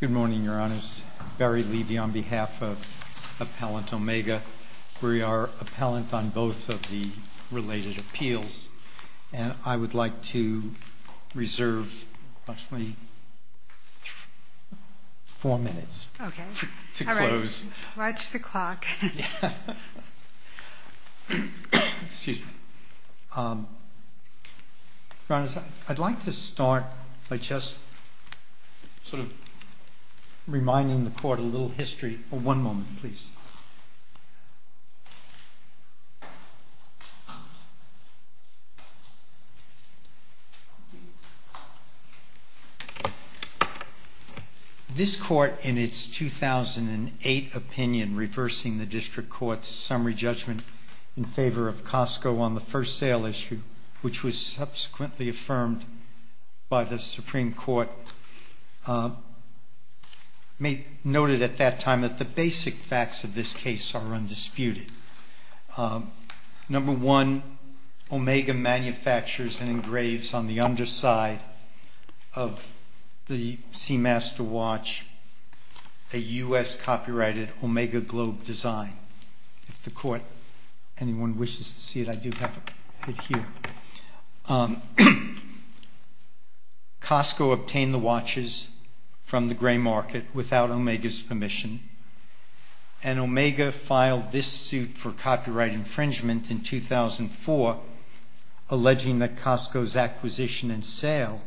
Good morning, Your Honors. Barry Levy on behalf of Appellant Omega. We are appellant on both of the related appeals, and I would like to reserve approximately four minutes to close. Okay. All right. Watch the clock. Excuse me. Your Honors, I'd like to start by just sort of reminding the Court a little history. One moment, please. This Court, in its 2008 opinion reversing the District Court's summary judgment in favor of Costco on the first sale issue, which was subsequently affirmed by the Supreme Court, noted at that time that the basic facts of this case are undisputed. Number one, Omega manufactures and engraves on the underside of the Seamaster watch a U.S. copyrighted Omega Globe design. If the Court, anyone wishes to see it, I do have it here. Costco obtained the watches from the gray market without Omega's permission, and Omega filed this suit for copyright infringement in 2004, alleging that Costco's acquisition and sale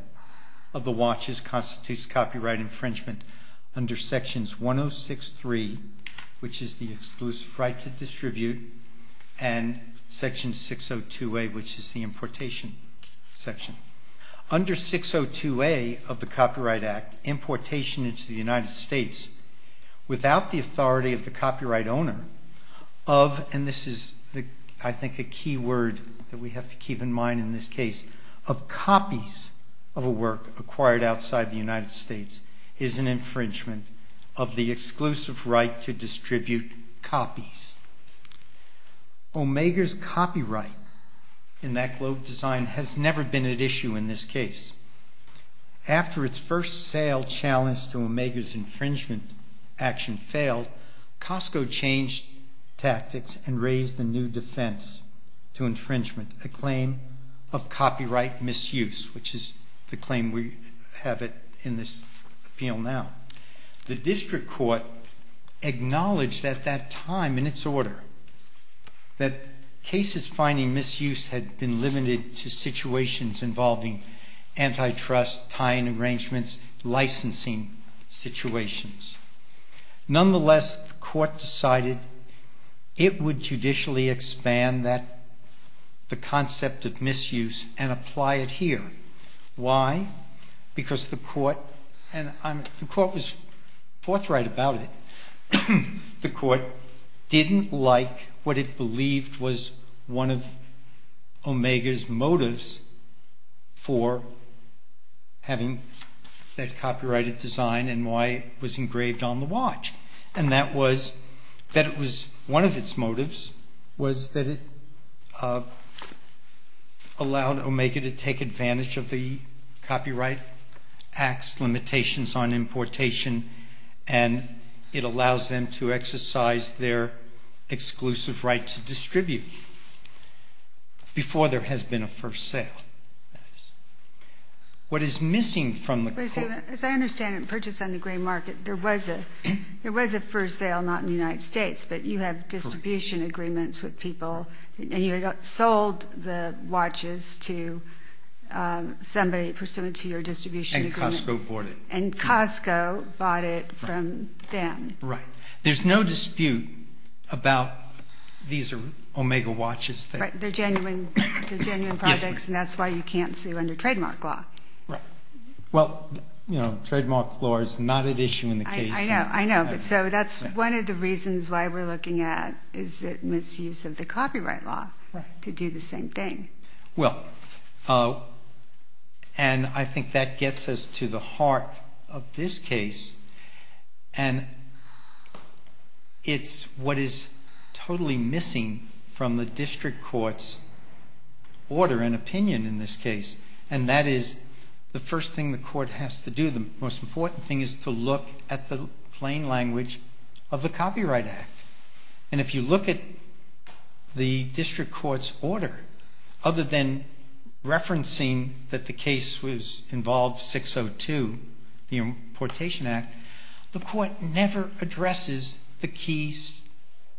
of the watches constitutes copyright infringement under Sections 106.3, which is the exclusive right to distribute, and Section 602A, which is the importation section. Under 602A of the Copyright Act, importation into the United States without the authority of the copyright of a work acquired outside the United States is an infringement of the exclusive right to distribute copies. Omega's copyright in that Globe design has never been at issue in this case. After its first sale challenge to Omega's infringement action failed, Costco changed tactics and raised a new defense to infringement, a claim of copyright misuse, which is the claim we have in this appeal now. The District Court acknowledged at that time, in its order, that cases finding misuse had been limited to situations involving antitrust, tying arrangements, licensing situations. Nonetheless, the Court decided it would judicially expand the concept of misuse and apply it here. Why? Because the Court, and the Court was forthright about it, the Court didn't like what it believed was one of Omega's motives for having that copyrighted design and why it was engraved on the watch. And that was that it was one of its motives was that it allowed Omega to take advantage of the Copyright Act's limitations on importation, and it allows them to exercise their exclusive right to distribute before there has been a first sale. What is missing from the Court As I understand it, in purchase on the green market, there was a first sale, not in the United States, but you have distribution agreements with people, and you sold the watches to somebody pursuant to your distribution agreement. And Costco bought it. And Costco bought it from them. Right. There's no dispute about these Omega watches. They're genuine, they're genuine trademark law. Right. Well, you know, trademark law is not at issue in the case. I know, I know. But so that's one of the reasons why we're looking at is the misuse of the copyright law to do the same thing. Well, and I think that gets us to the heart of this case. And it's what is totally missing from the district court's order and opinion in this case. And that is the first thing the court has to do. The most important thing is to look at the plain language of the Copyright Act. And if you look at the district court's order, other than referencing that the case was involved, 602, the Importation Act, the court never addresses the key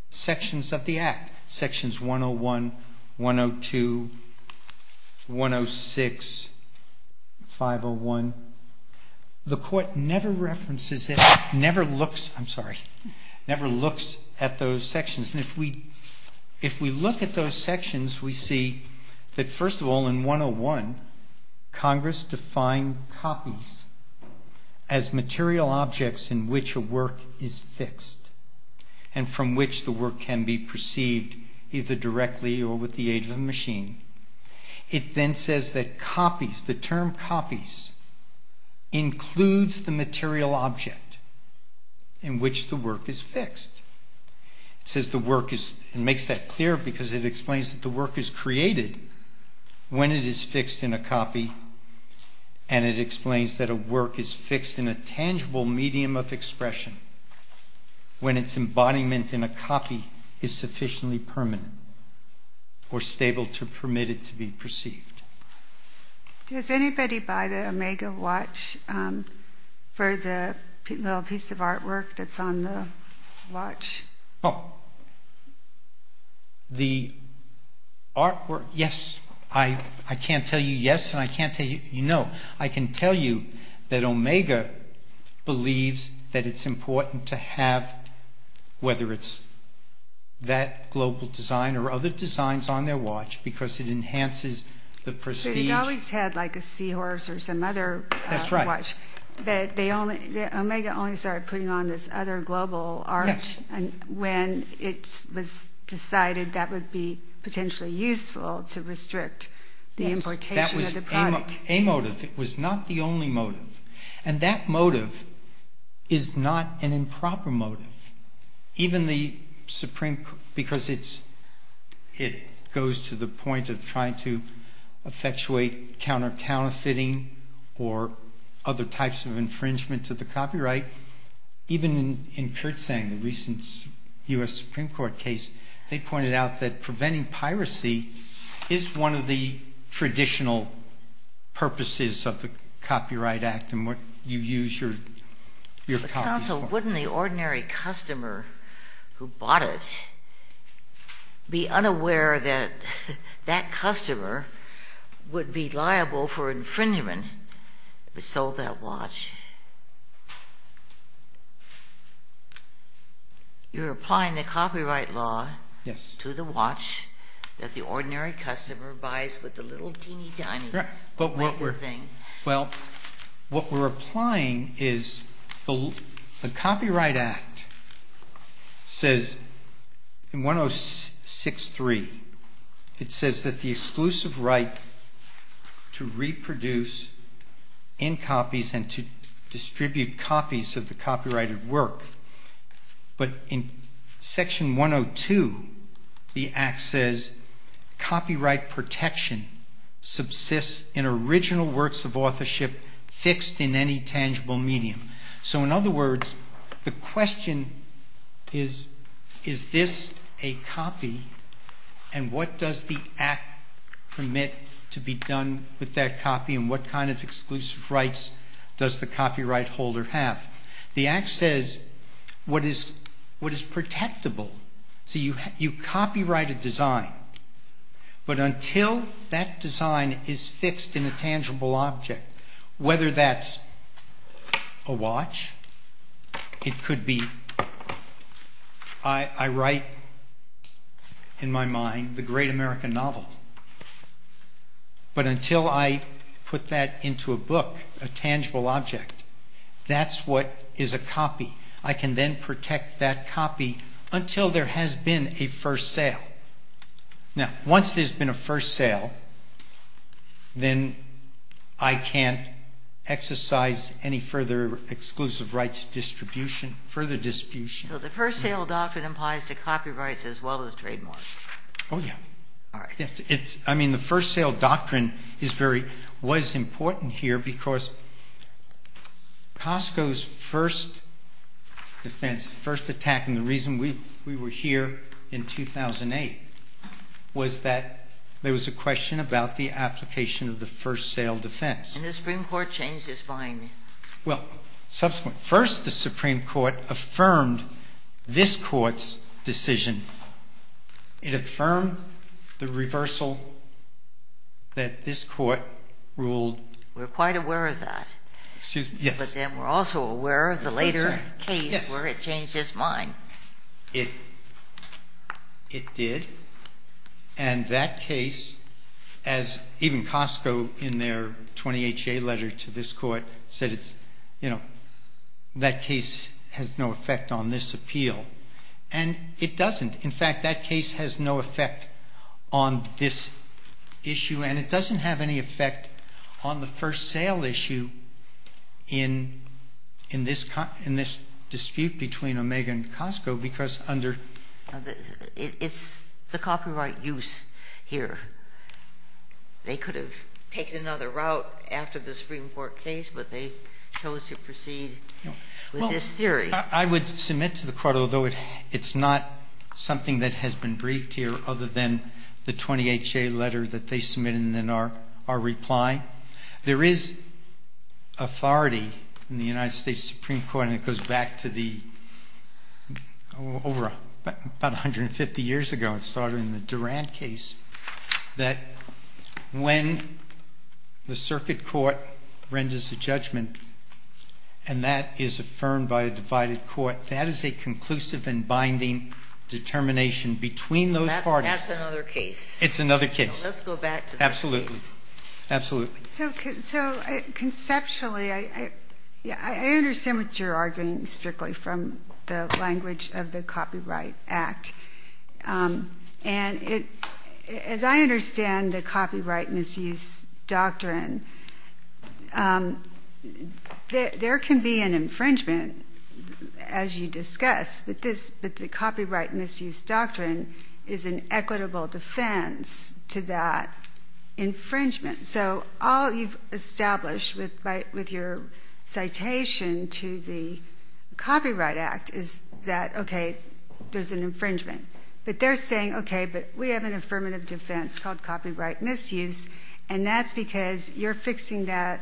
sections of the Act. Sections 101, 102, 106, 501. The court never references it, never looks, I'm sorry, never looks at those sections. And if we, if we look at those first of all, in 101, Congress defined copies as material objects in which a work is fixed and from which the work can be perceived either directly or with the aid of a machine. It then says that copies, the term copies includes the material object in which the work is fixed. It makes that clear because it explains that the work is created when it is fixed in a copy and it explains that a work is fixed in a tangible medium of expression when its embodiment in a copy is sufficiently permanent or stable to permit it to be perceived. Does anybody buy the artwork? Yes. I can't tell you yes and I can't tell you no. I can tell you that Omega believes that it's important to have, whether it's that global design or other designs on their watch, because it enhances the prestige. So you've always had like a Seahorse or some other watch, they only, Omega only started putting on this other global art when it was decided that would be potentially useful to restrict the importation of the product. Yes, that was a motive. It was not the only motive. And that motive is not an improper motive. Even the Supreme, because it's, it goes to the point of trying to effectuate counter-counterfeiting or other types of infringement to the copyright. Even in Kirtsang, the recent U.S. Supreme Court case, they pointed out that preventing piracy is one of the traditional purposes of the Copyright Act and you use your copy. Counsel, wouldn't the ordinary customer who bought it be unaware that that customer would be liable for infringement if he sold that watch? You're applying the copyright law to the watch that the ordinary customer buys with the little tiny little thing. Well, what we're applying is the Copyright Act says in 106.3, it says that the exclusive right to reproduce in copies and to distribute copies of the copyrighted work. But in section 102, the Act says copyright protection subsists in original works of authorship fixed in any tangible medium. So in other words, the question is, is this a copy and what does the Act permit to be done with that copy and what kind of exclusive rights does the copyright holder have? The Act says what is protectable, so you copyright a design, but until that design is fixed in a tangible object, whether that's a watch, it could be, I write in my mind the great American novel, but until I put that into a book, a tangible object, that's what is a copy. I can then protect that copy until there has been a first sale. Now, once there's been a first sale, then I can't exercise any further exclusive rights further distribution. So the first sale doctrine applies to copyrights as well as trademarks? Oh, yeah. I mean, the first sale doctrine was important here because Costco's first defense, first attack, and the reason we were here in 2008, was that there was a question about the application of the first sale defense. And the Supreme Court changed its mind? Well, first the Supreme Court affirmed this court's decision. It affirmed the reversal that this court ruled. We're quite aware of that, but then we're also aware of the later case where it changed its mind. It did. And that case, as even Costco in their 20HA letter to this court said, that case has no effect on this appeal. And it doesn't. In fact, that case has no effect on this issue, and it doesn't have any effect on the first sale issue in this dispute between Omega and Costco because under... It's the copyright use here. They could have taken another route after the Supreme Court case, but they chose to proceed with this theory. I would submit to the court, although it's not something that has been briefed here other than the 20HA letter that they submitted in our reply, there is authority in the United States Supreme Court, and it goes back to about 150 years ago, it started in the Durand case, that when the circuit court renders a judgment, and that is affirmed by a divided court, that is a conclusive and binding determination between those parties. That's another case. It's another case. Let's go back to that case. Absolutely. So conceptually, I understand what you're arguing strictly from the language of the Copyright Act. And as I understand the copyright misuse doctrine, there can be an infringement as you discuss, but the copyright misuse doctrine is an equitable defense to that infringement. So all you've established with your citation to the Copyright Act is that, okay, there's an infringement. But they're saying, okay, but we have an affirmative defense called copyright misuse, and that's because you're fixing that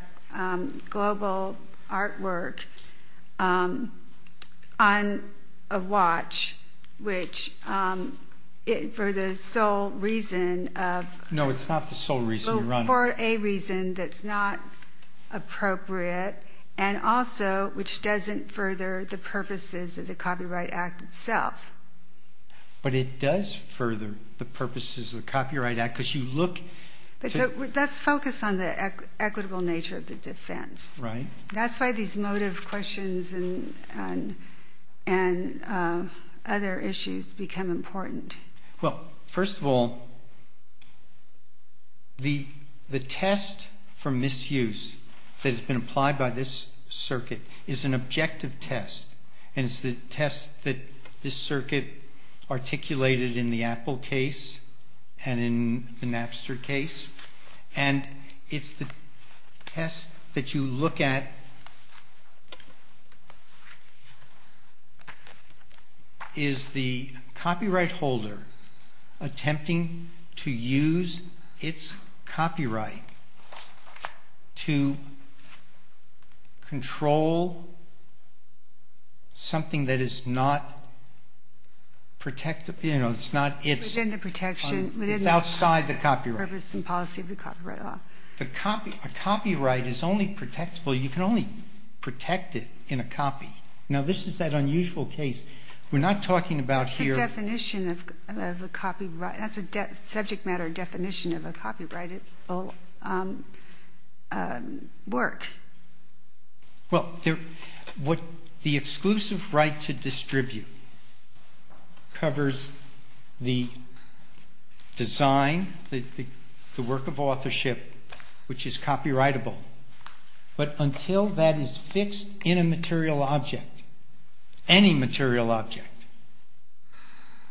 global artwork on a watch, which is for the sole reason of... No, it's not the sole reason. For a reason that's not appropriate, and also which doesn't further the purposes of the Copyright Act itself. But it does further the purposes of the Copyright Act because you look... Let's focus on the equitable nature of the defense. That's why these motive questions and other issues become important. Well, first of all, the test for misuse that has been applied by this circuit is an objective test. And it's the test that this circuit articulated in the Apple case and in the Napster case. And it's the test that you look at, is the copyright holder attempting to use its copyright to control something that is not protected... It's not its... Within the protection... It's outside the copyright. Purpose and policy of the copyright law. A copyright is only protectable, you can only protect it in a copy. Now, this is that unusual case. We're not talking about here... It's a definition of a copyright. That's a subject matter definition of a copyright. It will be a subject matter definition of a copyright. The exclusive right to distribute covers the design, the work of authorship, which is copyrightable, but until that is fixed in a material object, any material object,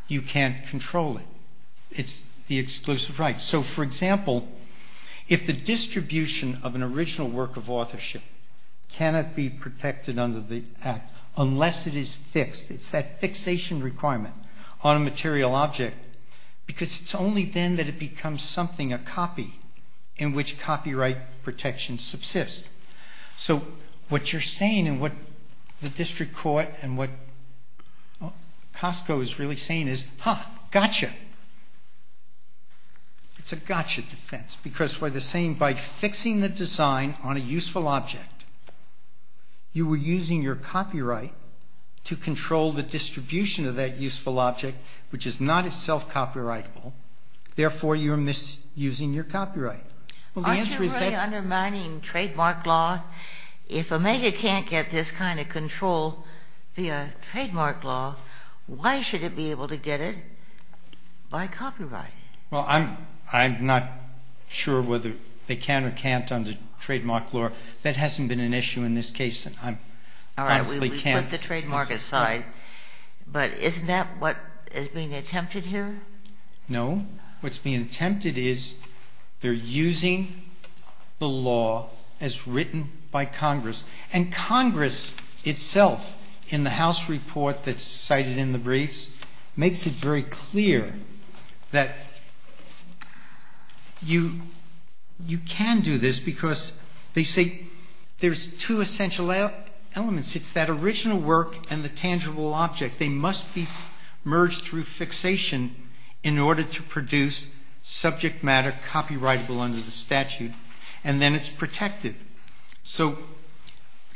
you can't control it. It's the exclusive right. So, for distribution of an original work of authorship cannot be protected under the Act unless it is fixed. It's that fixation requirement on a material object because it's only then that it becomes something, a copy, in which copyright protections subsist. So, what you're saying and what the district court and what Costco is really saying is, ha, gotcha. It's a gotcha defense because what they're saying, by fixing the design on a useful object, you were using your copyright to control the distribution of that useful object, which is not itself copyrightable. Therefore, you're misusing your copyright. Well, the answer is that's... Aren't you really undermining trademark law? If Omega can't get this kind of control via trademark law, why should it be able to get it by copyright? Well, I'm not sure whether they can or can't under trademark law. That hasn't been an issue in this case, and I honestly can't... All right. We put the trademark aside, but isn't that what is being attempted here? No. What's being attempted is they're using the law as written by Congress. And Congress itself, in the House report that's cited in the statute, says that you can do this because they say there's two essential elements. It's that original work and the tangible object. They must be merged through fixation in order to produce subject matter copyrightable under the statute, and then it's protected. So,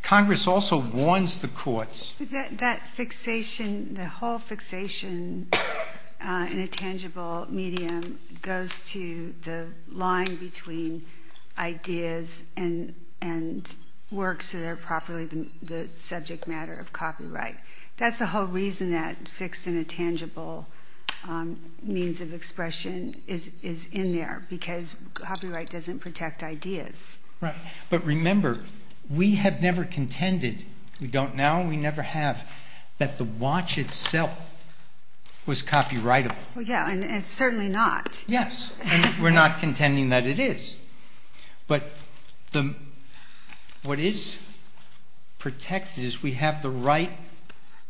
Congress also warns the courts... That fixation, the whole fixation in a tangible medium goes to the line between ideas and works that are properly the subject matter of copyright. That's the whole reason that fixed in a tangible means of expression is in there, because copyright doesn't protect ideas. Right. But remember, we have never contended. We don't now, and we never have, that the watch itself was copyrightable. Yeah, and it's certainly not. Yes, and we're not contending that it is. But what is protected is we have the right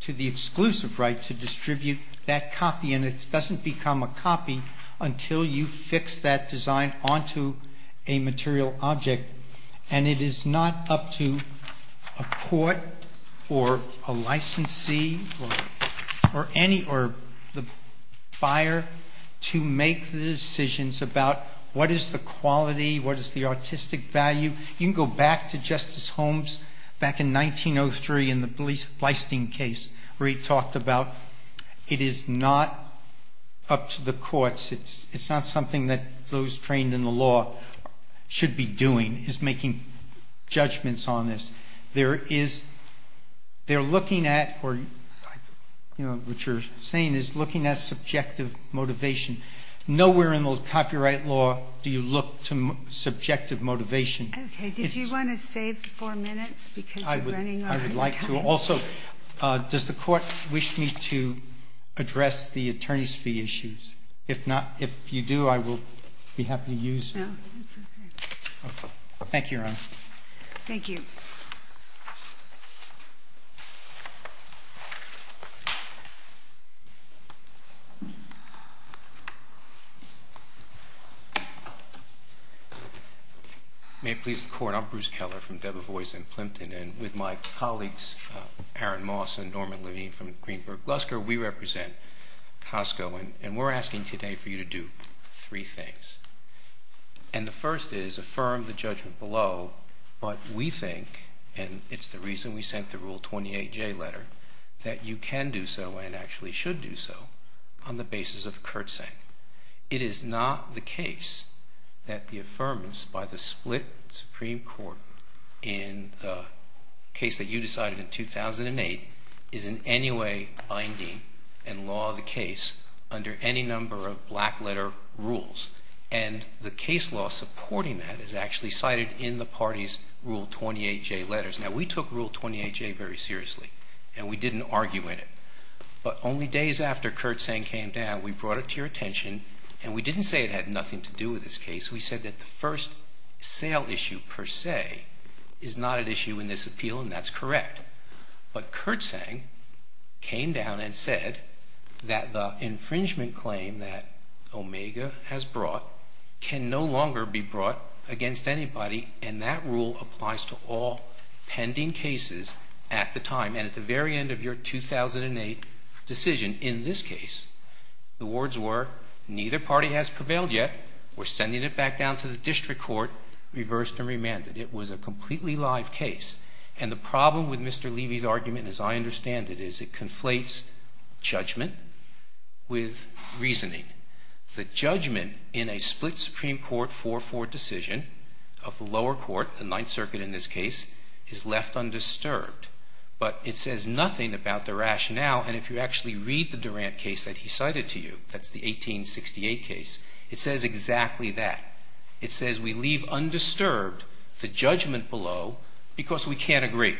to the exclusive right to distribute that copy, and it doesn't become a copy until you fix that design onto a material object, and it is not up to a court or a licensee or any, or the buyer to make the decisions about what is the quality, what is the artistic value. You can go back to Justice Holmes back in 1903 in the Bleistien case where he talked about it is not up to the courts. It's not something that those trained in the law should be doing, is making judgments on this. There is, they're looking at or, you know, what you're saying is looking at subjective motivation. Nowhere in the copyright law do you look to subjective motivation. Okay. Did you want to save four minutes because we're running out of time? I would like to. Also, does the court wish me to address the attorney's fee issues? If not, if you do, I will be happy to use it. Thank you, Your Honor. Thank you. May it please the Court, I'm Bruce Keller from Debevoise & Plimpton, and with my colleagues Aaron Moss and Norman Levine from Greenberg Lusker, we represent Costco, and we're asking today for you to do three things. And the first is affirm the judgment below, but we think, and it's the reason we sent the Rule 28J letter, that you can do so and actually should do so on the basis of curtsaying. It is not the case that the affirmance by the under any number of black letter rules, and the case law supporting that is actually cited in the party's Rule 28J letters. Now, we took Rule 28J very seriously, and we didn't argue in it, but only days after curtsaying came down, we brought it to your attention, and we didn't say it had nothing to do with this case. We said that the first sale issue per se is not an issue in this appeal, and that's correct. But curtsaying came down and said that the infringement claim that Omega has brought can no longer be brought against anybody, and that rule applies to all pending cases at the time, and at the very end of your 2008 decision. In this case, the words were, neither party has prevailed yet. We're sending it back down to the district court, reversed and remanded. It was a completely live case, and the problem with Mr. Durant's case is that it leaves judgment with reasoning. The judgment in a split Supreme Court 4-4 decision of the lower court, the Ninth Circuit in this case, is left undisturbed, but it says nothing about the rationale, and if you actually read the Durant case that he cited to you, that's the 1868 case, it says exactly that. It says we leave undisturbed the judgment below because we can't agree.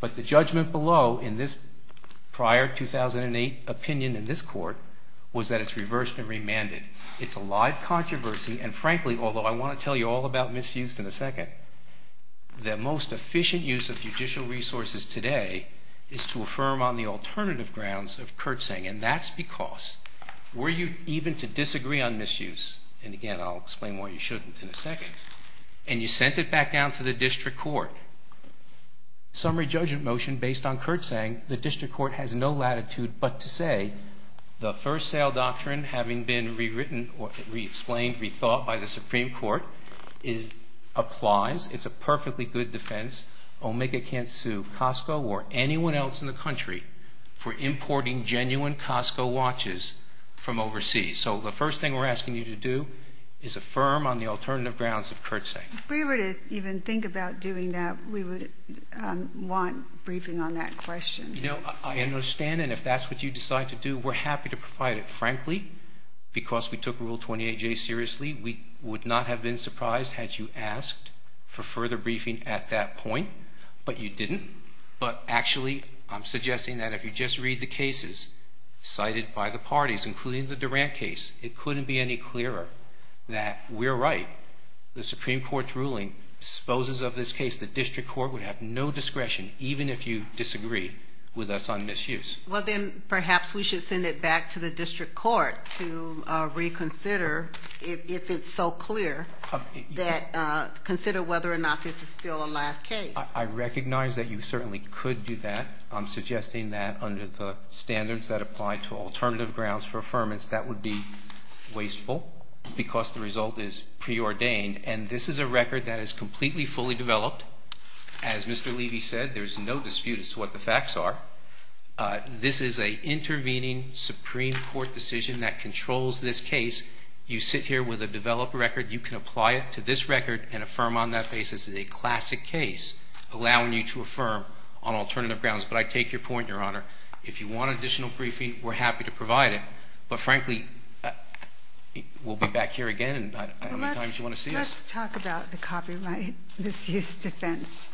But the judgment below in this prior 2008 opinion in this court was that it's reversed and remanded. It's a live controversy, and frankly, although I want to tell you all about misuse in a second, the most efficient use of judicial resources today is to affirm on the alternative grounds of curtsaying, and that's because were you even to disagree on misuse, and again, I'll explain why you shouldn't in a second, and you sent it back down to the district court. Summary judgment motion based on curtsaying, the district court has no latitude but to say the first sale doctrine, having been rewritten or re-explained, rethought by the Supreme Court, applies. It's a perfectly good defense. Omega can't sue Costco or anyone else in the country for importing genuine Costco watches from overseas. So the first thing we're going to do is we're going to take a look at that and then think about doing that. We would want briefing on that question. You know, I understand, and if that's what you decide to do, we're happy to provide it. Frankly, because we took Rule 28J seriously, we would not have been surprised had you asked for further briefing at that point, but you didn't. But actually, I'm suggesting that if you just read the cases cited by the parties, including the Durant case, it couldn't be any clearer that we're right. The Supreme Court's ruling exposes of this case the district court would have no discretion, even if you disagree with us on misuse. Well, then perhaps we should send it back to the district court to reconsider if it's so clear that, consider whether or not this is still a live case. I recognize that you certainly could do that. I'm suggesting that under the standards that apply to alternative grounds for affirmance, that would be wasteful because the result is preordained. And this is a record that is completely fully developed. As Mr. Levy said, there's no dispute as to what the facts are. This is an intervening Supreme Court decision that controls this case. You sit here with a developed record. You can apply it to this record and affirm on that basis that it's a classic case allowing you to affirm on alternative grounds. But I take your point, Your Honor. If you want additional briefing, we're happy to provide it. But frankly, we'll be back here again. How many times do you want to see us? Well, let's talk about the copyright misuse defense.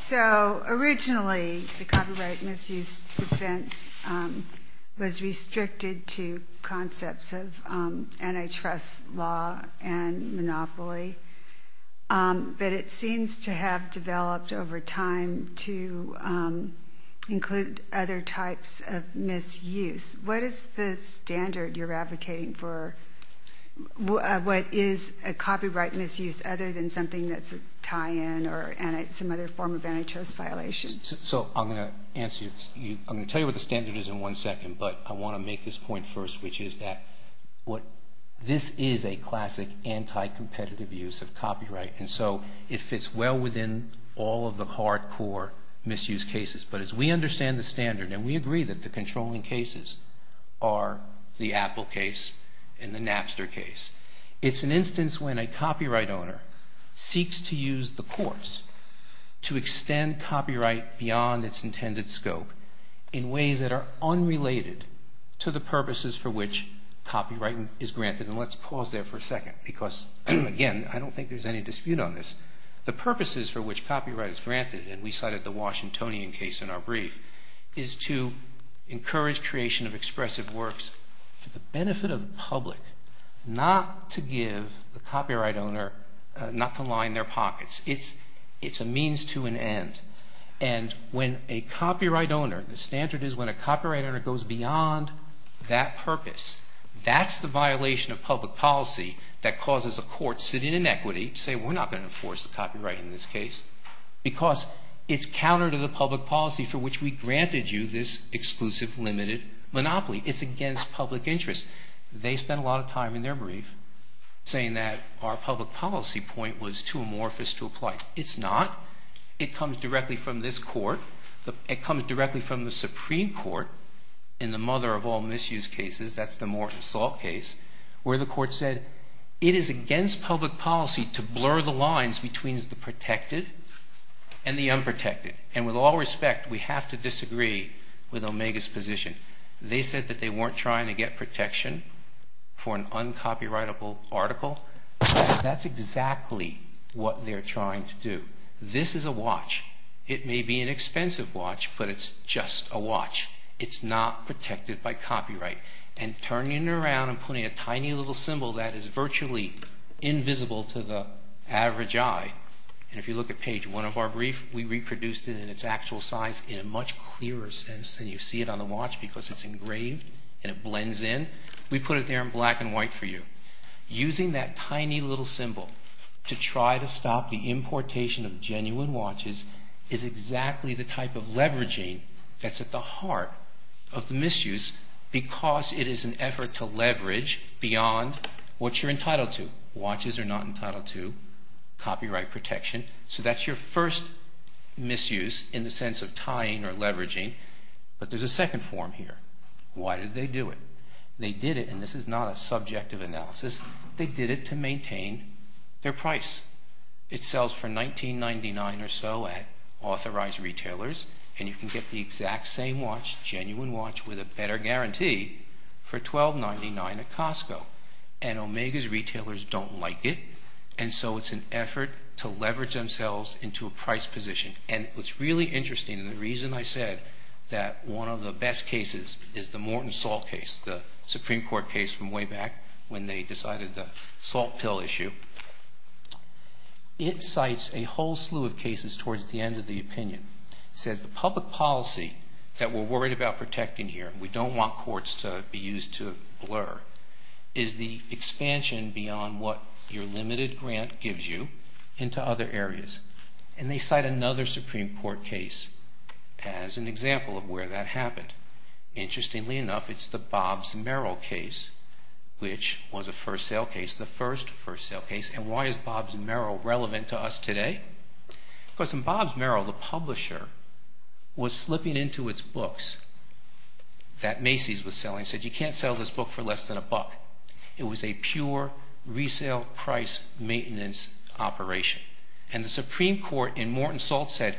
So originally, the copyright misuse defense was restricted to concepts of antitrust law and monopoly. But it seems to have developed over time to include other types of misuse. What is the standard you're advocating for? What is a copyright misuse other than something that's a tie-in or some other form of antitrust violation? So I'm going to tell you what the standard is in one second, but I want to make this point first, which is that this is a classic anti-competitive use of copyright. And so it fits well within all of the hardcore misuse cases. But as we understand the standard, and we agree that the controlling cases are the Apple case and the Napster case, it's an instance when a copyright owner seeks to use the courts to extend copyright beyond its intended scope in ways that are unrelated to the purposes for which copyright is granted. And let's pause there for a second because, again, I don't think there's any dispute on this. The purposes for which copyright is granted, and we cited the Washingtonian case in our brief, is to encourage creation of expressive works for the benefit of the public, not to give the copyright owner, not to line their pockets. It's a means to an end. And when a copyright owner, the standard is when a copyright owner goes beyond that purpose. That's the violation of public policy that causes a court sitting in equity to say, we're not going to enforce the copyright in this case because it's counter to the public policy for which we granted you this exclusive limited monopoly. It's against public interest. They spent a lot of time in their brief saying that our public policy point was too amorphous to apply. It's not. It comes directly from this court. It comes directly from the Supreme Court, in the mother of all misuse cases, that's the Morton Salt case, where the court said it is against public policy to blur the lines between the protected and the unprotected. And with all respect, we have to disagree with Omega's position. They said that they weren't trying to get protection for an uncopyrightable article. That's exactly what they're trying to do. This is a watch. It may be an expensive watch, but it's just a watch. It's not protected by copyright. And turning it around and putting a tiny little symbol that is virtually invisible to the average eye, and if you look at page one of our brief, we reproduced it in its actual size in a much clearer sense than you see it on the watch because it's engraved and it blends in. We put it there in black and white for you. Using that tiny little symbol to try to stop the importation of genuine watches is exactly the type of leveraging that's at the heart of the misuse because it is an effort to leverage beyond what you're entitled to. Watches are not entitled to copyright protection, so that's your first misuse in the sense of tying or leveraging. But there's a second form here. Why did they do it? They did it, and this is not a subjective analysis, they did it to maintain their price. It sells for $19.99 or so at authorized retailers, and you can get the exact same watch, genuine watch, with a better guarantee for $12.99 at Costco. And Omega's retailers don't like it, and so it's an effort to leverage themselves into a price position. And what's really interesting, and the reason I said that one of the best cases is the Morton Salt case, the Supreme Court case from way back when they decided the salt pill issue. It cites a whole slew of cases towards the end of the opinion. It says the public policy that we're worried about protecting here, we don't want courts to be used to blur, is the expansion beyond what your limited grant gives you into other areas. And they cite another Supreme Court case as an example of where that happened. Interestingly enough, it's the Bob's Merrill case, which was a first sale case, the first first sale case. And why is Bob's Merrill relevant to us today? Because in Bob's Merrill, the publisher was slipping into its books that Macy's was selling, said you can't sell this book for less than a buck. It was a pure resale price maintenance operation. And the Supreme Court in Morton Salt said,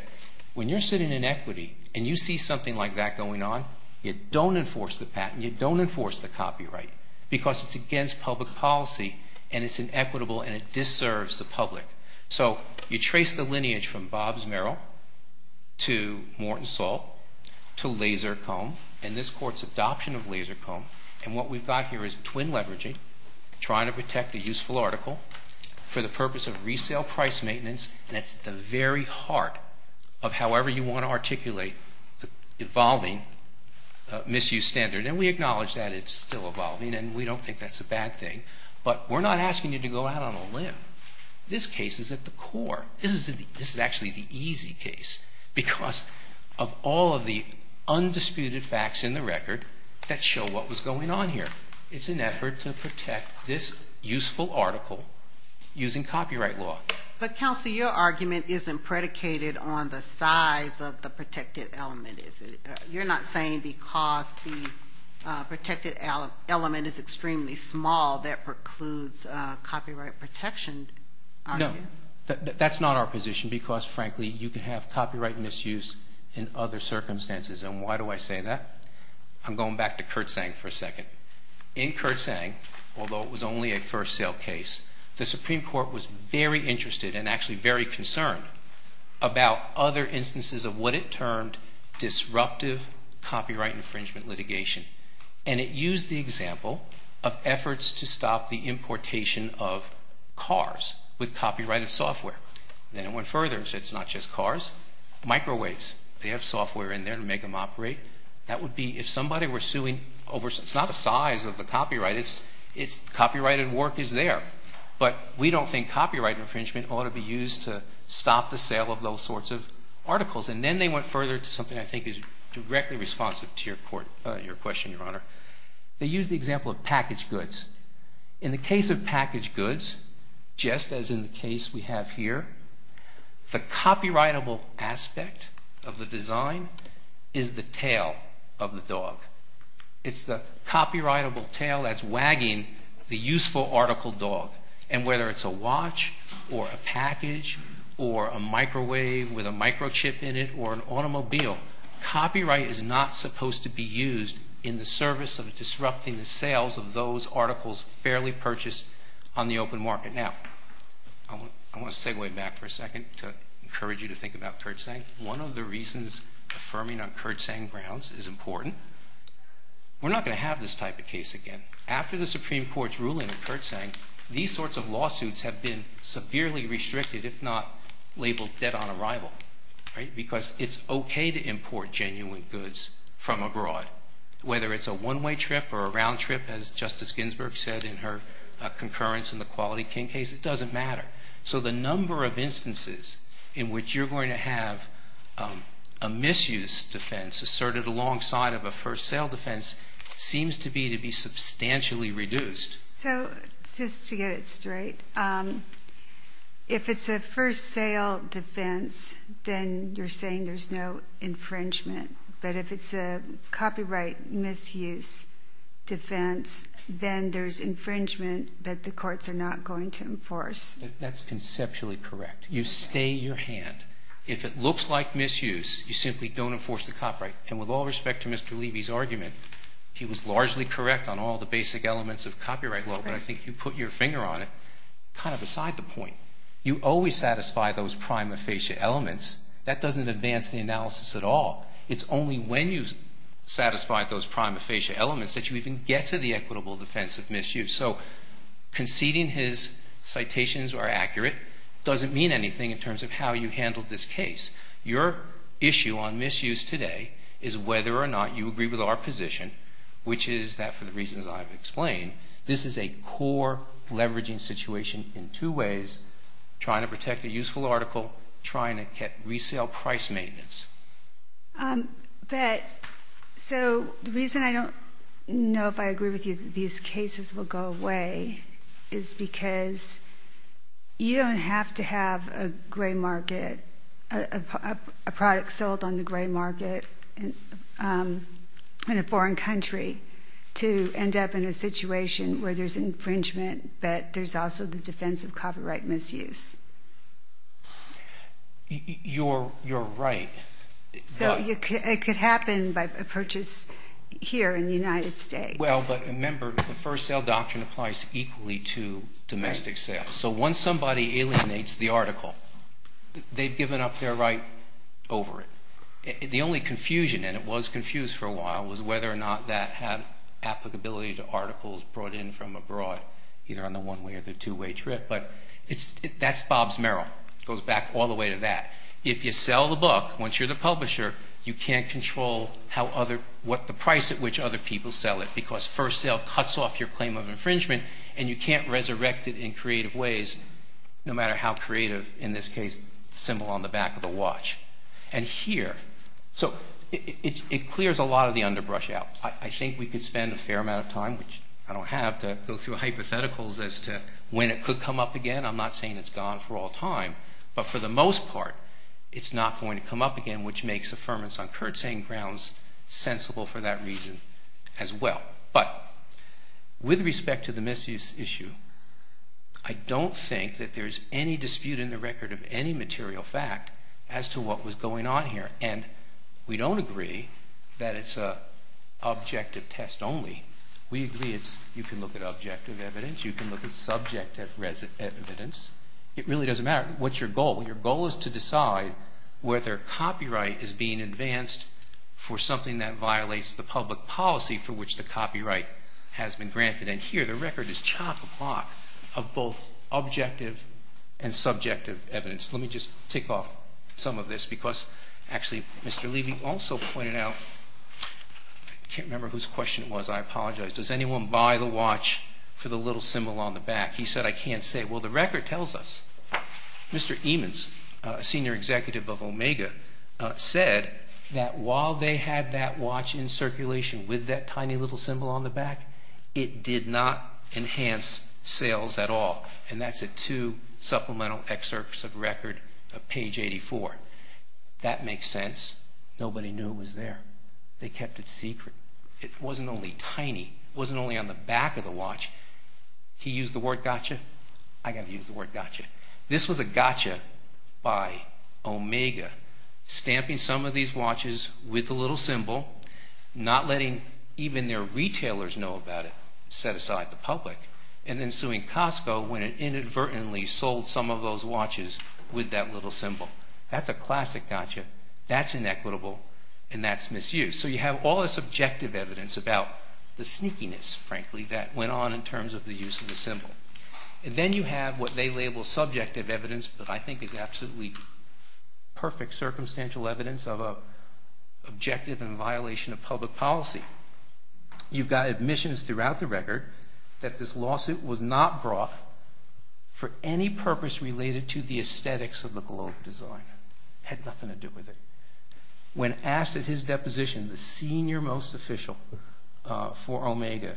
when you're sitting in equity, and you see something like that going on, you don't enforce the patent, you don't enforce the copyright, because it's against public policy, and it's inequitable, and it deserves the public. So you trace the lineage from Bob's Merrill, to Morton Salt, to laser comb, and this court's adoption of laser comb. And what we've got here is twin leveraging, trying to protect a useful article for the purpose of resale price maintenance. That's the very heart of however you want to articulate the evolving misuse standard. And we acknowledge that it's still evolving, and we don't think that's a bad thing. But we're not asking you to go out on a limb. This case is at the core. This is actually the easy case, because of all of the undisputed facts in the record that show what was going on here. It's an effort to protect this useful article using copyright law. But counsel, your argument isn't predicated on the size of the protected element, is it? You're not saying because the protected element is extremely small, that precludes copyright protection, are you? No. That's not our position, because frankly, you can have copyright misuse in other circumstances. And why do I say that? I'm going back to Kurt Zang for a second. In Kurt Zang, although it was only a first sale case, the Supreme Court was very interested and actually very concerned about other instances of what it termed disruptive copyright infringement litigation. And it used the example of efforts to stop the microwaves. They have software in there to make them operate. That would be if somebody were suing over, it's not a size of the copyright, it's copyrighted work is there. But we don't think copyright infringement ought to be used to stop the sale of those sorts of articles. And then they went further to something I think is directly responsive to your question, Your Honor. They used the example of packaged goods. In the case of packaged goods, just as in the case we have, the copyrightable aspect of the design is the tail of the dog. It's the copyrightable tail that's wagging the useful article dog. And whether it's a watch or a package or a microwave with a microchip in it or an automobile, copyright is not supposed to be used in the service of disrupting the sales of those articles fairly purchased on the open market. Now, I want to wait back for a second to encourage you to think about Kurtzsang. One of the reasons affirming on Kurtzsang grounds is important. We're not going to have this type of case again. After the Supreme Court's ruling on Kurtzsang, these sorts of lawsuits have been severely restricted if not labeled dead on arrival, right? Because it's okay to import genuine goods from abroad. Whether it's a one-way trip or a round trip, as Justice Ginsburg said in her concurrence in the Quality King case, it doesn't matter. So the number of instances in which you're going to have a misuse defense asserted alongside of a first sale defense seems to be to be substantially reduced. So just to get it straight, if it's a first sale defense, then you're saying there's no infringement. But if it's a copyright misuse defense, then there's infringement that the courts are not going to enforce. That's conceptually correct. You stay your hand. If it looks like misuse, you simply don't enforce the copyright. And with all respect to Mr. Levy's argument, he was largely correct on all the basic elements of copyright law. But I think you put your finger on it kind of beside the point. You always satisfy those prima facie elements. That doesn't advance the analysis at all. It's only when you've satisfied those prima facie elements that you even get to the equitable defense of conceding his citations are accurate doesn't mean anything in terms of how you handled this case. Your issue on misuse today is whether or not you agree with our position, which is that, for the reasons I've explained, this is a core leveraging situation in two ways, trying to protect a useful article, trying to get resale price maintenance. But so the reason I don't know if I agree with you that these cases will go away is because you don't have to have a gray market, a product sold on the gray market in a foreign country to end up in a situation where there's infringement, but there's also the defense of copyright misuse. You're right. So it could happen by purchase here in the United States. Well, but remember, the first sale doctrine applies equally to domestic sales. So once somebody alienates the article, they've given up their right over it. The only confusion, and it was confused for a while, was whether or not that had applicability to articles brought in from abroad, either on the one-way or the two-way trip. But that's Bob's Merrill. It goes back all the way to that. If you sell the book, once you're the publisher, you can't control what the price at which other people sell it, because first sale cuts off your claim of infringement, and you can't resurrect it in creative ways, no matter how creative, in this case, the symbol on the back of the watch. And here, so it clears a lot of the underbrush out. I think we could spend a fair amount of time, which I don't have, to go through hypotheticals as to when it could come up again. I'm not saying it's gone for all time. But for the most part, it's not going to come up again, which makes affirmance on current saying grounds sensible for that reason as well. But with respect to the misuse issue, I don't think that there's any dispute in the record of any material fact as to what was going on here. And we don't agree that it's an objective test only. We agree it's, you can look at objective evidence, you can look at subjective evidence. It really doesn't matter. What's your goal? Well, your goal is to decide whether copyright is being advanced for something that violates the public policy for which the copyright has been granted. And here, the record is chock-a-block of both objective and subjective evidence. Let me just tick off some of this, because actually, Mr. Levy also pointed out, I can't remember whose question it was. I apologize. Does anyone buy the watch for the little symbol on the back? He said, I can't say. Well, the record tells us. Mr. Eamons, senior executive of Omega, said that while they had that watch in circulation with that tiny little symbol on the back, it did not enhance sales at all. And that's a two supplemental excerpts of record of page 84. That makes sense. Nobody knew it was there. They kept it secret. It wasn't only tiny. It wasn't only on the back of the watch. He used the word gotcha. I got to use the word gotcha. This was a gotcha by Omega, stamping some of these watches with the little symbol, not letting even their retailers know about it, set aside the public, and then suing Costco when it inadvertently sold some of those watches with that little symbol. That's a classic gotcha. That's inequitable, and that's misused. So you have all this objective evidence about the sneakiness, frankly, that went on in terms of the use of the symbol. Then you have what they label subjective evidence, but I think is absolutely perfect circumstantial evidence of an objective and violation of public policy. You've got admissions throughout the record that this lawsuit was not brought for any purpose related to the aesthetics of the globe design. It had nothing to do with it. When asked at his deposition, the senior most official for Omega,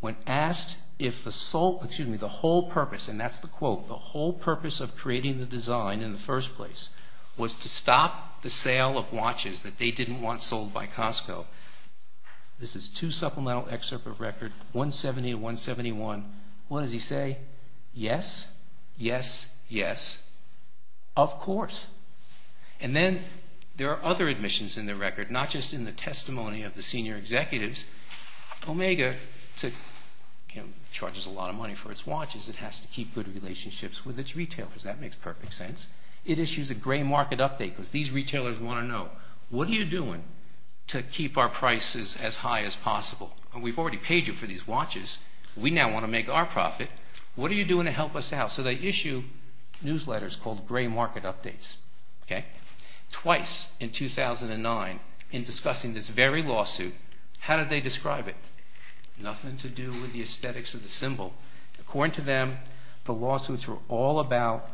when asked if the sole, excuse me, the whole purpose, and that's the quote, the whole purpose of creating the design in the first place was to stop the sale of watches that they didn't want sold by Costco. This is two supplemental excerpt of record 170 and 171. What does he say? Yes, yes, yes, of course. And then there are other admissions in the record, not just in the testimony of the senior executives. Omega charges a lot of money for its watches. It has to keep good relationships with its retailers. That makes perfect sense. It issues a gray market update because these retailers want to know, what are you doing to keep our prices as high as possible? We've already paid you for these watches. We now want to make our profit. What are you doing to help us out? So they issue newsletters called gray market updates. Twice in 2009 in discussing this very lawsuit, how did they describe it? Nothing to do with the aesthetics of the symbol. According to them, the lawsuits were all about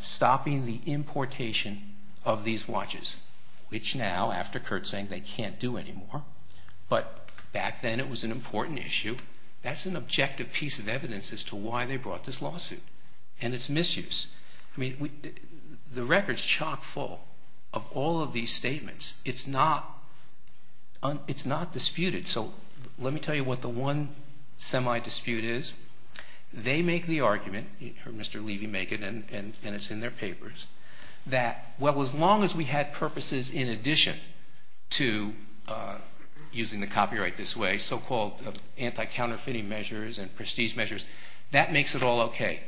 stopping the importation of these watches, which now after Kurt saying they can't do anymore, but back then it was an important issue. That's an objective piece of evidence as to why they brought this lawsuit and its misuse. I mean, the record's chock full of all of these statements. It's not, it's not disputed. So let me tell you what the one semi-dispute is. They make the argument, Mr. Levy make it and it's in their papers, that well, as long as we had purposes in addition to using the copyright this way, so-called anti-counterfeiting measures and prestige measures, that makes it all okay.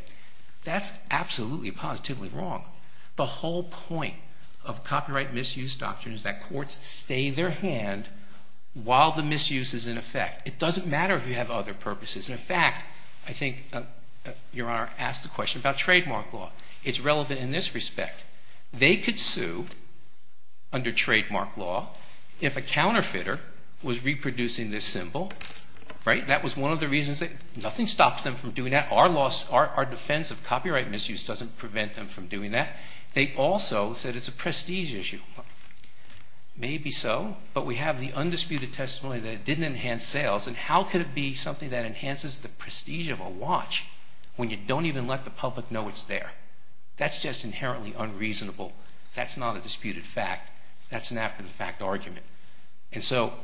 That's absolutely positively wrong. The whole point of copyright misuse doctrine is that courts stay their hand while the misuse is in effect. It doesn't matter if you have other purposes. In fact, I think Your Honor asked the question about trademark law. It's relevant in this respect. They could sue under trademark law if a counterfeiter was reproducing this symbol, right? That was one of the reasons that nothing stops them from doing that. Our loss, our defense of copyright misuse doesn't prevent them from doing that. They also said it's a but we have the undisputed testimony that it didn't enhance sales and how could it be something that enhances the prestige of a watch when you don't even let the public know it's there? That's just inherently unreasonable. That's not a disputed fact. That's an after-the-fact argument. And so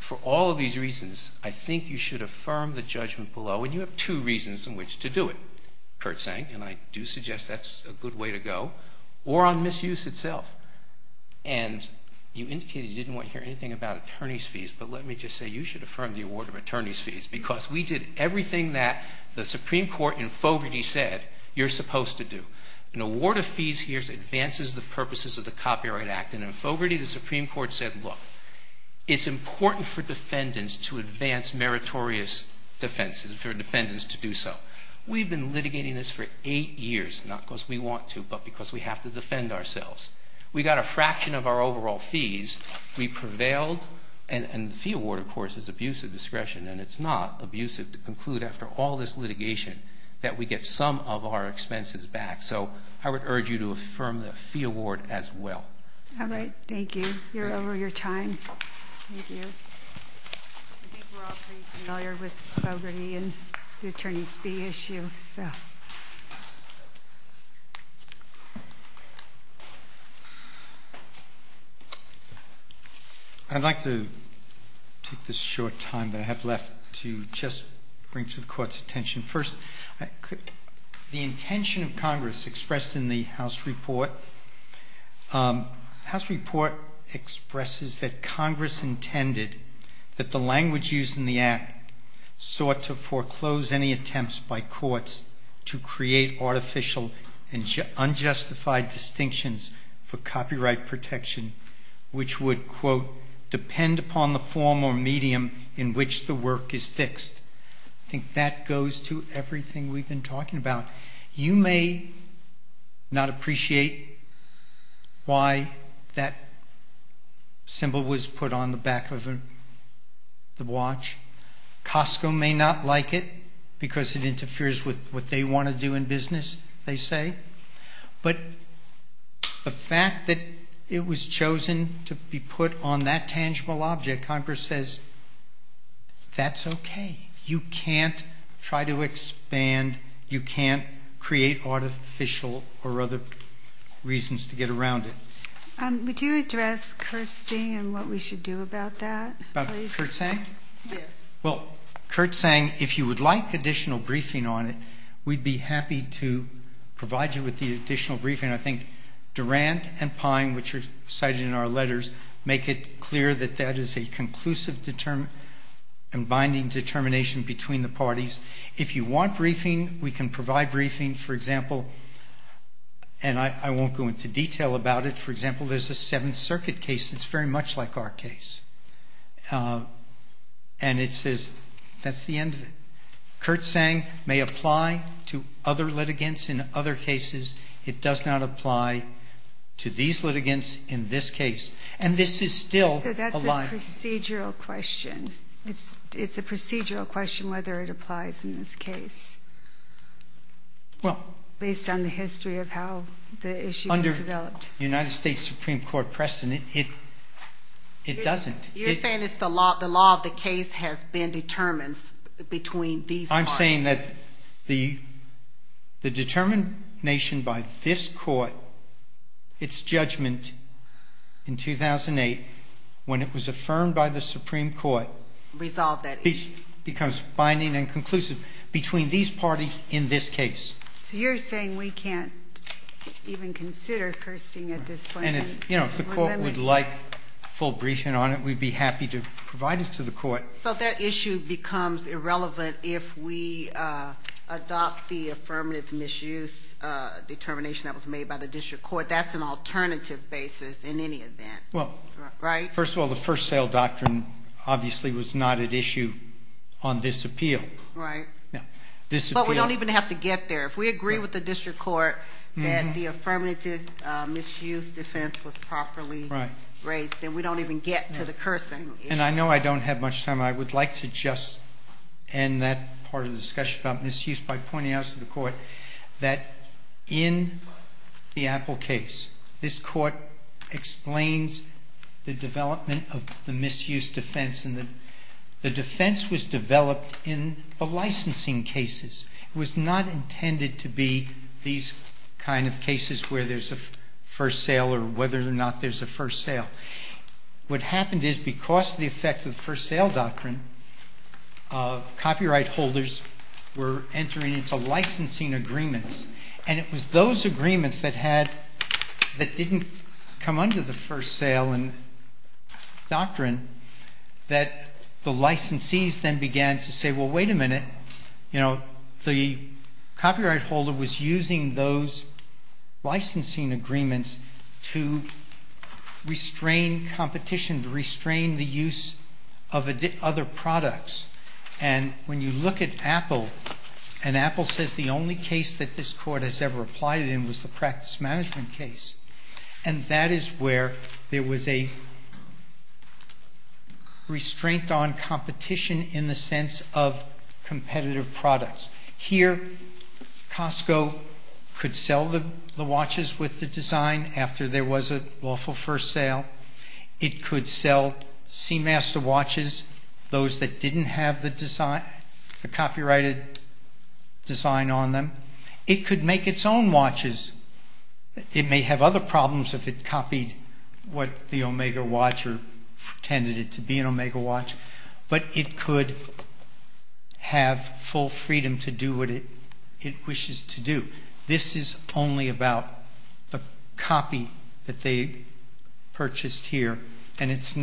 for all of these reasons, I think you should affirm the judgment below and you have two reasons in which to do it, Kurt's saying, and I do suggest that's a good way to go, or on misuse itself. And you indicated you didn't want to hear anything about attorney's fees, but let me just say you should affirm the award of attorney's fees because we did everything that the Supreme Court in Fogarty said you're supposed to do. An award of fees here advances the purposes of the Copyright Act. And in Fogarty, the Supreme Court said, look, it's important for defendants to advance meritorious defenses, for defendants to do so. We've been litigating this for eight years. We have to defend ourselves. We got a fraction of our overall fees. We prevailed. And the fee award, of course, is abusive discretion, and it's not abusive to conclude after all this litigation that we get some of our expenses back. So I would urge you to affirm the fee award as well. All right. Thank you. You're over your time. Thank you. I think we're all pretty familiar with Fogarty and the attorney's fee issue. I'd like to take this short time that I have left to just bring to the Court's attention. First, the intention of Congress expressed in the House report, the House report expresses that Congress intended that the language used in the Act sought to foreclose any attempts by courts to create artificial and unjustified distinctions for copyright protection, which would, quote, depend upon the form or medium in which the work is fixed. I think that goes to everything we've been talking about. You may not appreciate why that symbol was put on the back of the watch. Costco may not like it because it interferes with what they want to do in business, they say. But the fact that it was chosen to be put on that tangible object, Congress says, that's okay. You can't try to expand, you can't create artificial or other reasons to get around it. Would you address Kirsten and what we should do about that, please? Kirsten, if you would like additional briefing on it, we'd be happy to provide you with the additional briefing. I think Durant and Pine, which are cited in our letters, make it clear that that is a conclusive and binding determination between the parties. If you want briefing, we can provide briefing, for example, and I won't go into detail about it. For example, there's a Seventh Circuit case that's very much like our case, and it says that's the end of it. Curt Sang may apply to other litigants in other cases. It does not apply to these litigants in this case, and this is still a lie. So that's a procedural question. It's a procedural question whether it applies in this case, based on the history of how the issue was developed. Under United States Supreme Court precedent, it doesn't. You're saying it's the law, the law of the case has been determined between these parties. I'm saying that the determination by this court, its judgment in 2008, when it was affirmed by the Supreme Court. Resolved that issue. Becomes binding and conclusive between these parties in this case. So you're saying we can't even consider cursing at this point? And if the court would like full briefing on it, we'd be happy to provide it to the court. So that issue becomes irrelevant if we adopt the affirmative misuse determination that was made by the district court. That's an alternative basis in any event, right? Well, first of all, the first sale doctrine obviously was not at issue on this appeal. But we don't even have to get there. If we agree with the district court, the affirmative misuse defense was properly raised, then we don't even get to the cursing. And I know I don't have much time. I would like to just end that part of the discussion about misuse by pointing out to the court that in the Apple case, this court explains the development of the misuse defense and the defense was developed in the licensing cases. It was not intended to be these kind of cases where there's a first sale or whether or not there's a first sale. What happened is because of the effect of the first sale doctrine, copyright holders were entering into licensing agreements. And it was those agreements that didn't come under the first sale doctrine that the licensees then began to say, well, wait a minute. The copyright holder was using those licensing agreements to restrain competition, to restrain the use of other products. And when you look at Apple and Apple says the only case that this court has ever applied it in was the practice management case. And that is where there was a competition in the sense of competitive products. Here, Costco could sell the watches with the design after there was a lawful first sale. It could sell Seamaster watches, those that didn't have the copyrighted design on them. It could make its own watches. It may have other problems if it copied what the Omega watch or tended it to be an Omega watch, but it could have full freedom to do what it wishes to do. This is only about the copy that they purchased here. And it's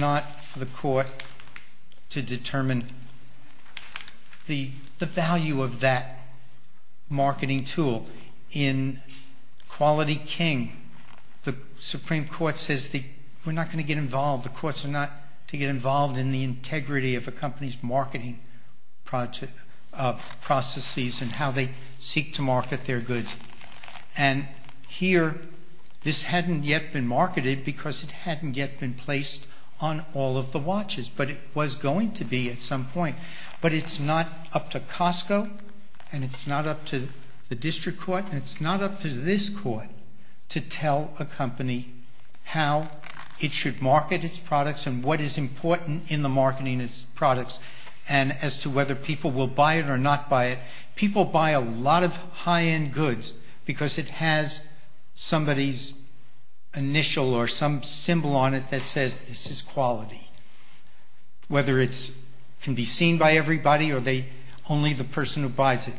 Supreme Court says that we're not going to get involved. The courts are not to get involved in the integrity of a company's marketing processes and how they seek to market their goods. And here, this hadn't yet been marketed because it hadn't yet been placed on all of the watches, but it was going to be at some point. But it's not up to Costco and it's not up to the district court and it's not up to this court to tell a company how it should market its products and what is important in the marketing of its products and as to whether people will buy it or not buy it. People buy a lot of high-end goods because it has somebody's initial or some symbol on it that says this is quality, whether it can be seen by everybody or only the person who buys it.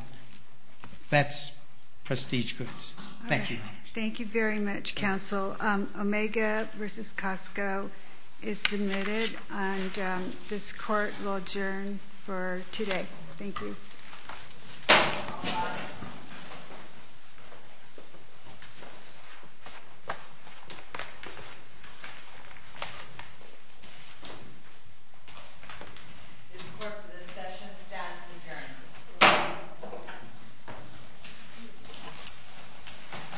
That's prestige goods. Thank you. Thank you very much, counsel. Omega versus Costco is submitted and this court will adjourn for today. Thank you. Thank you.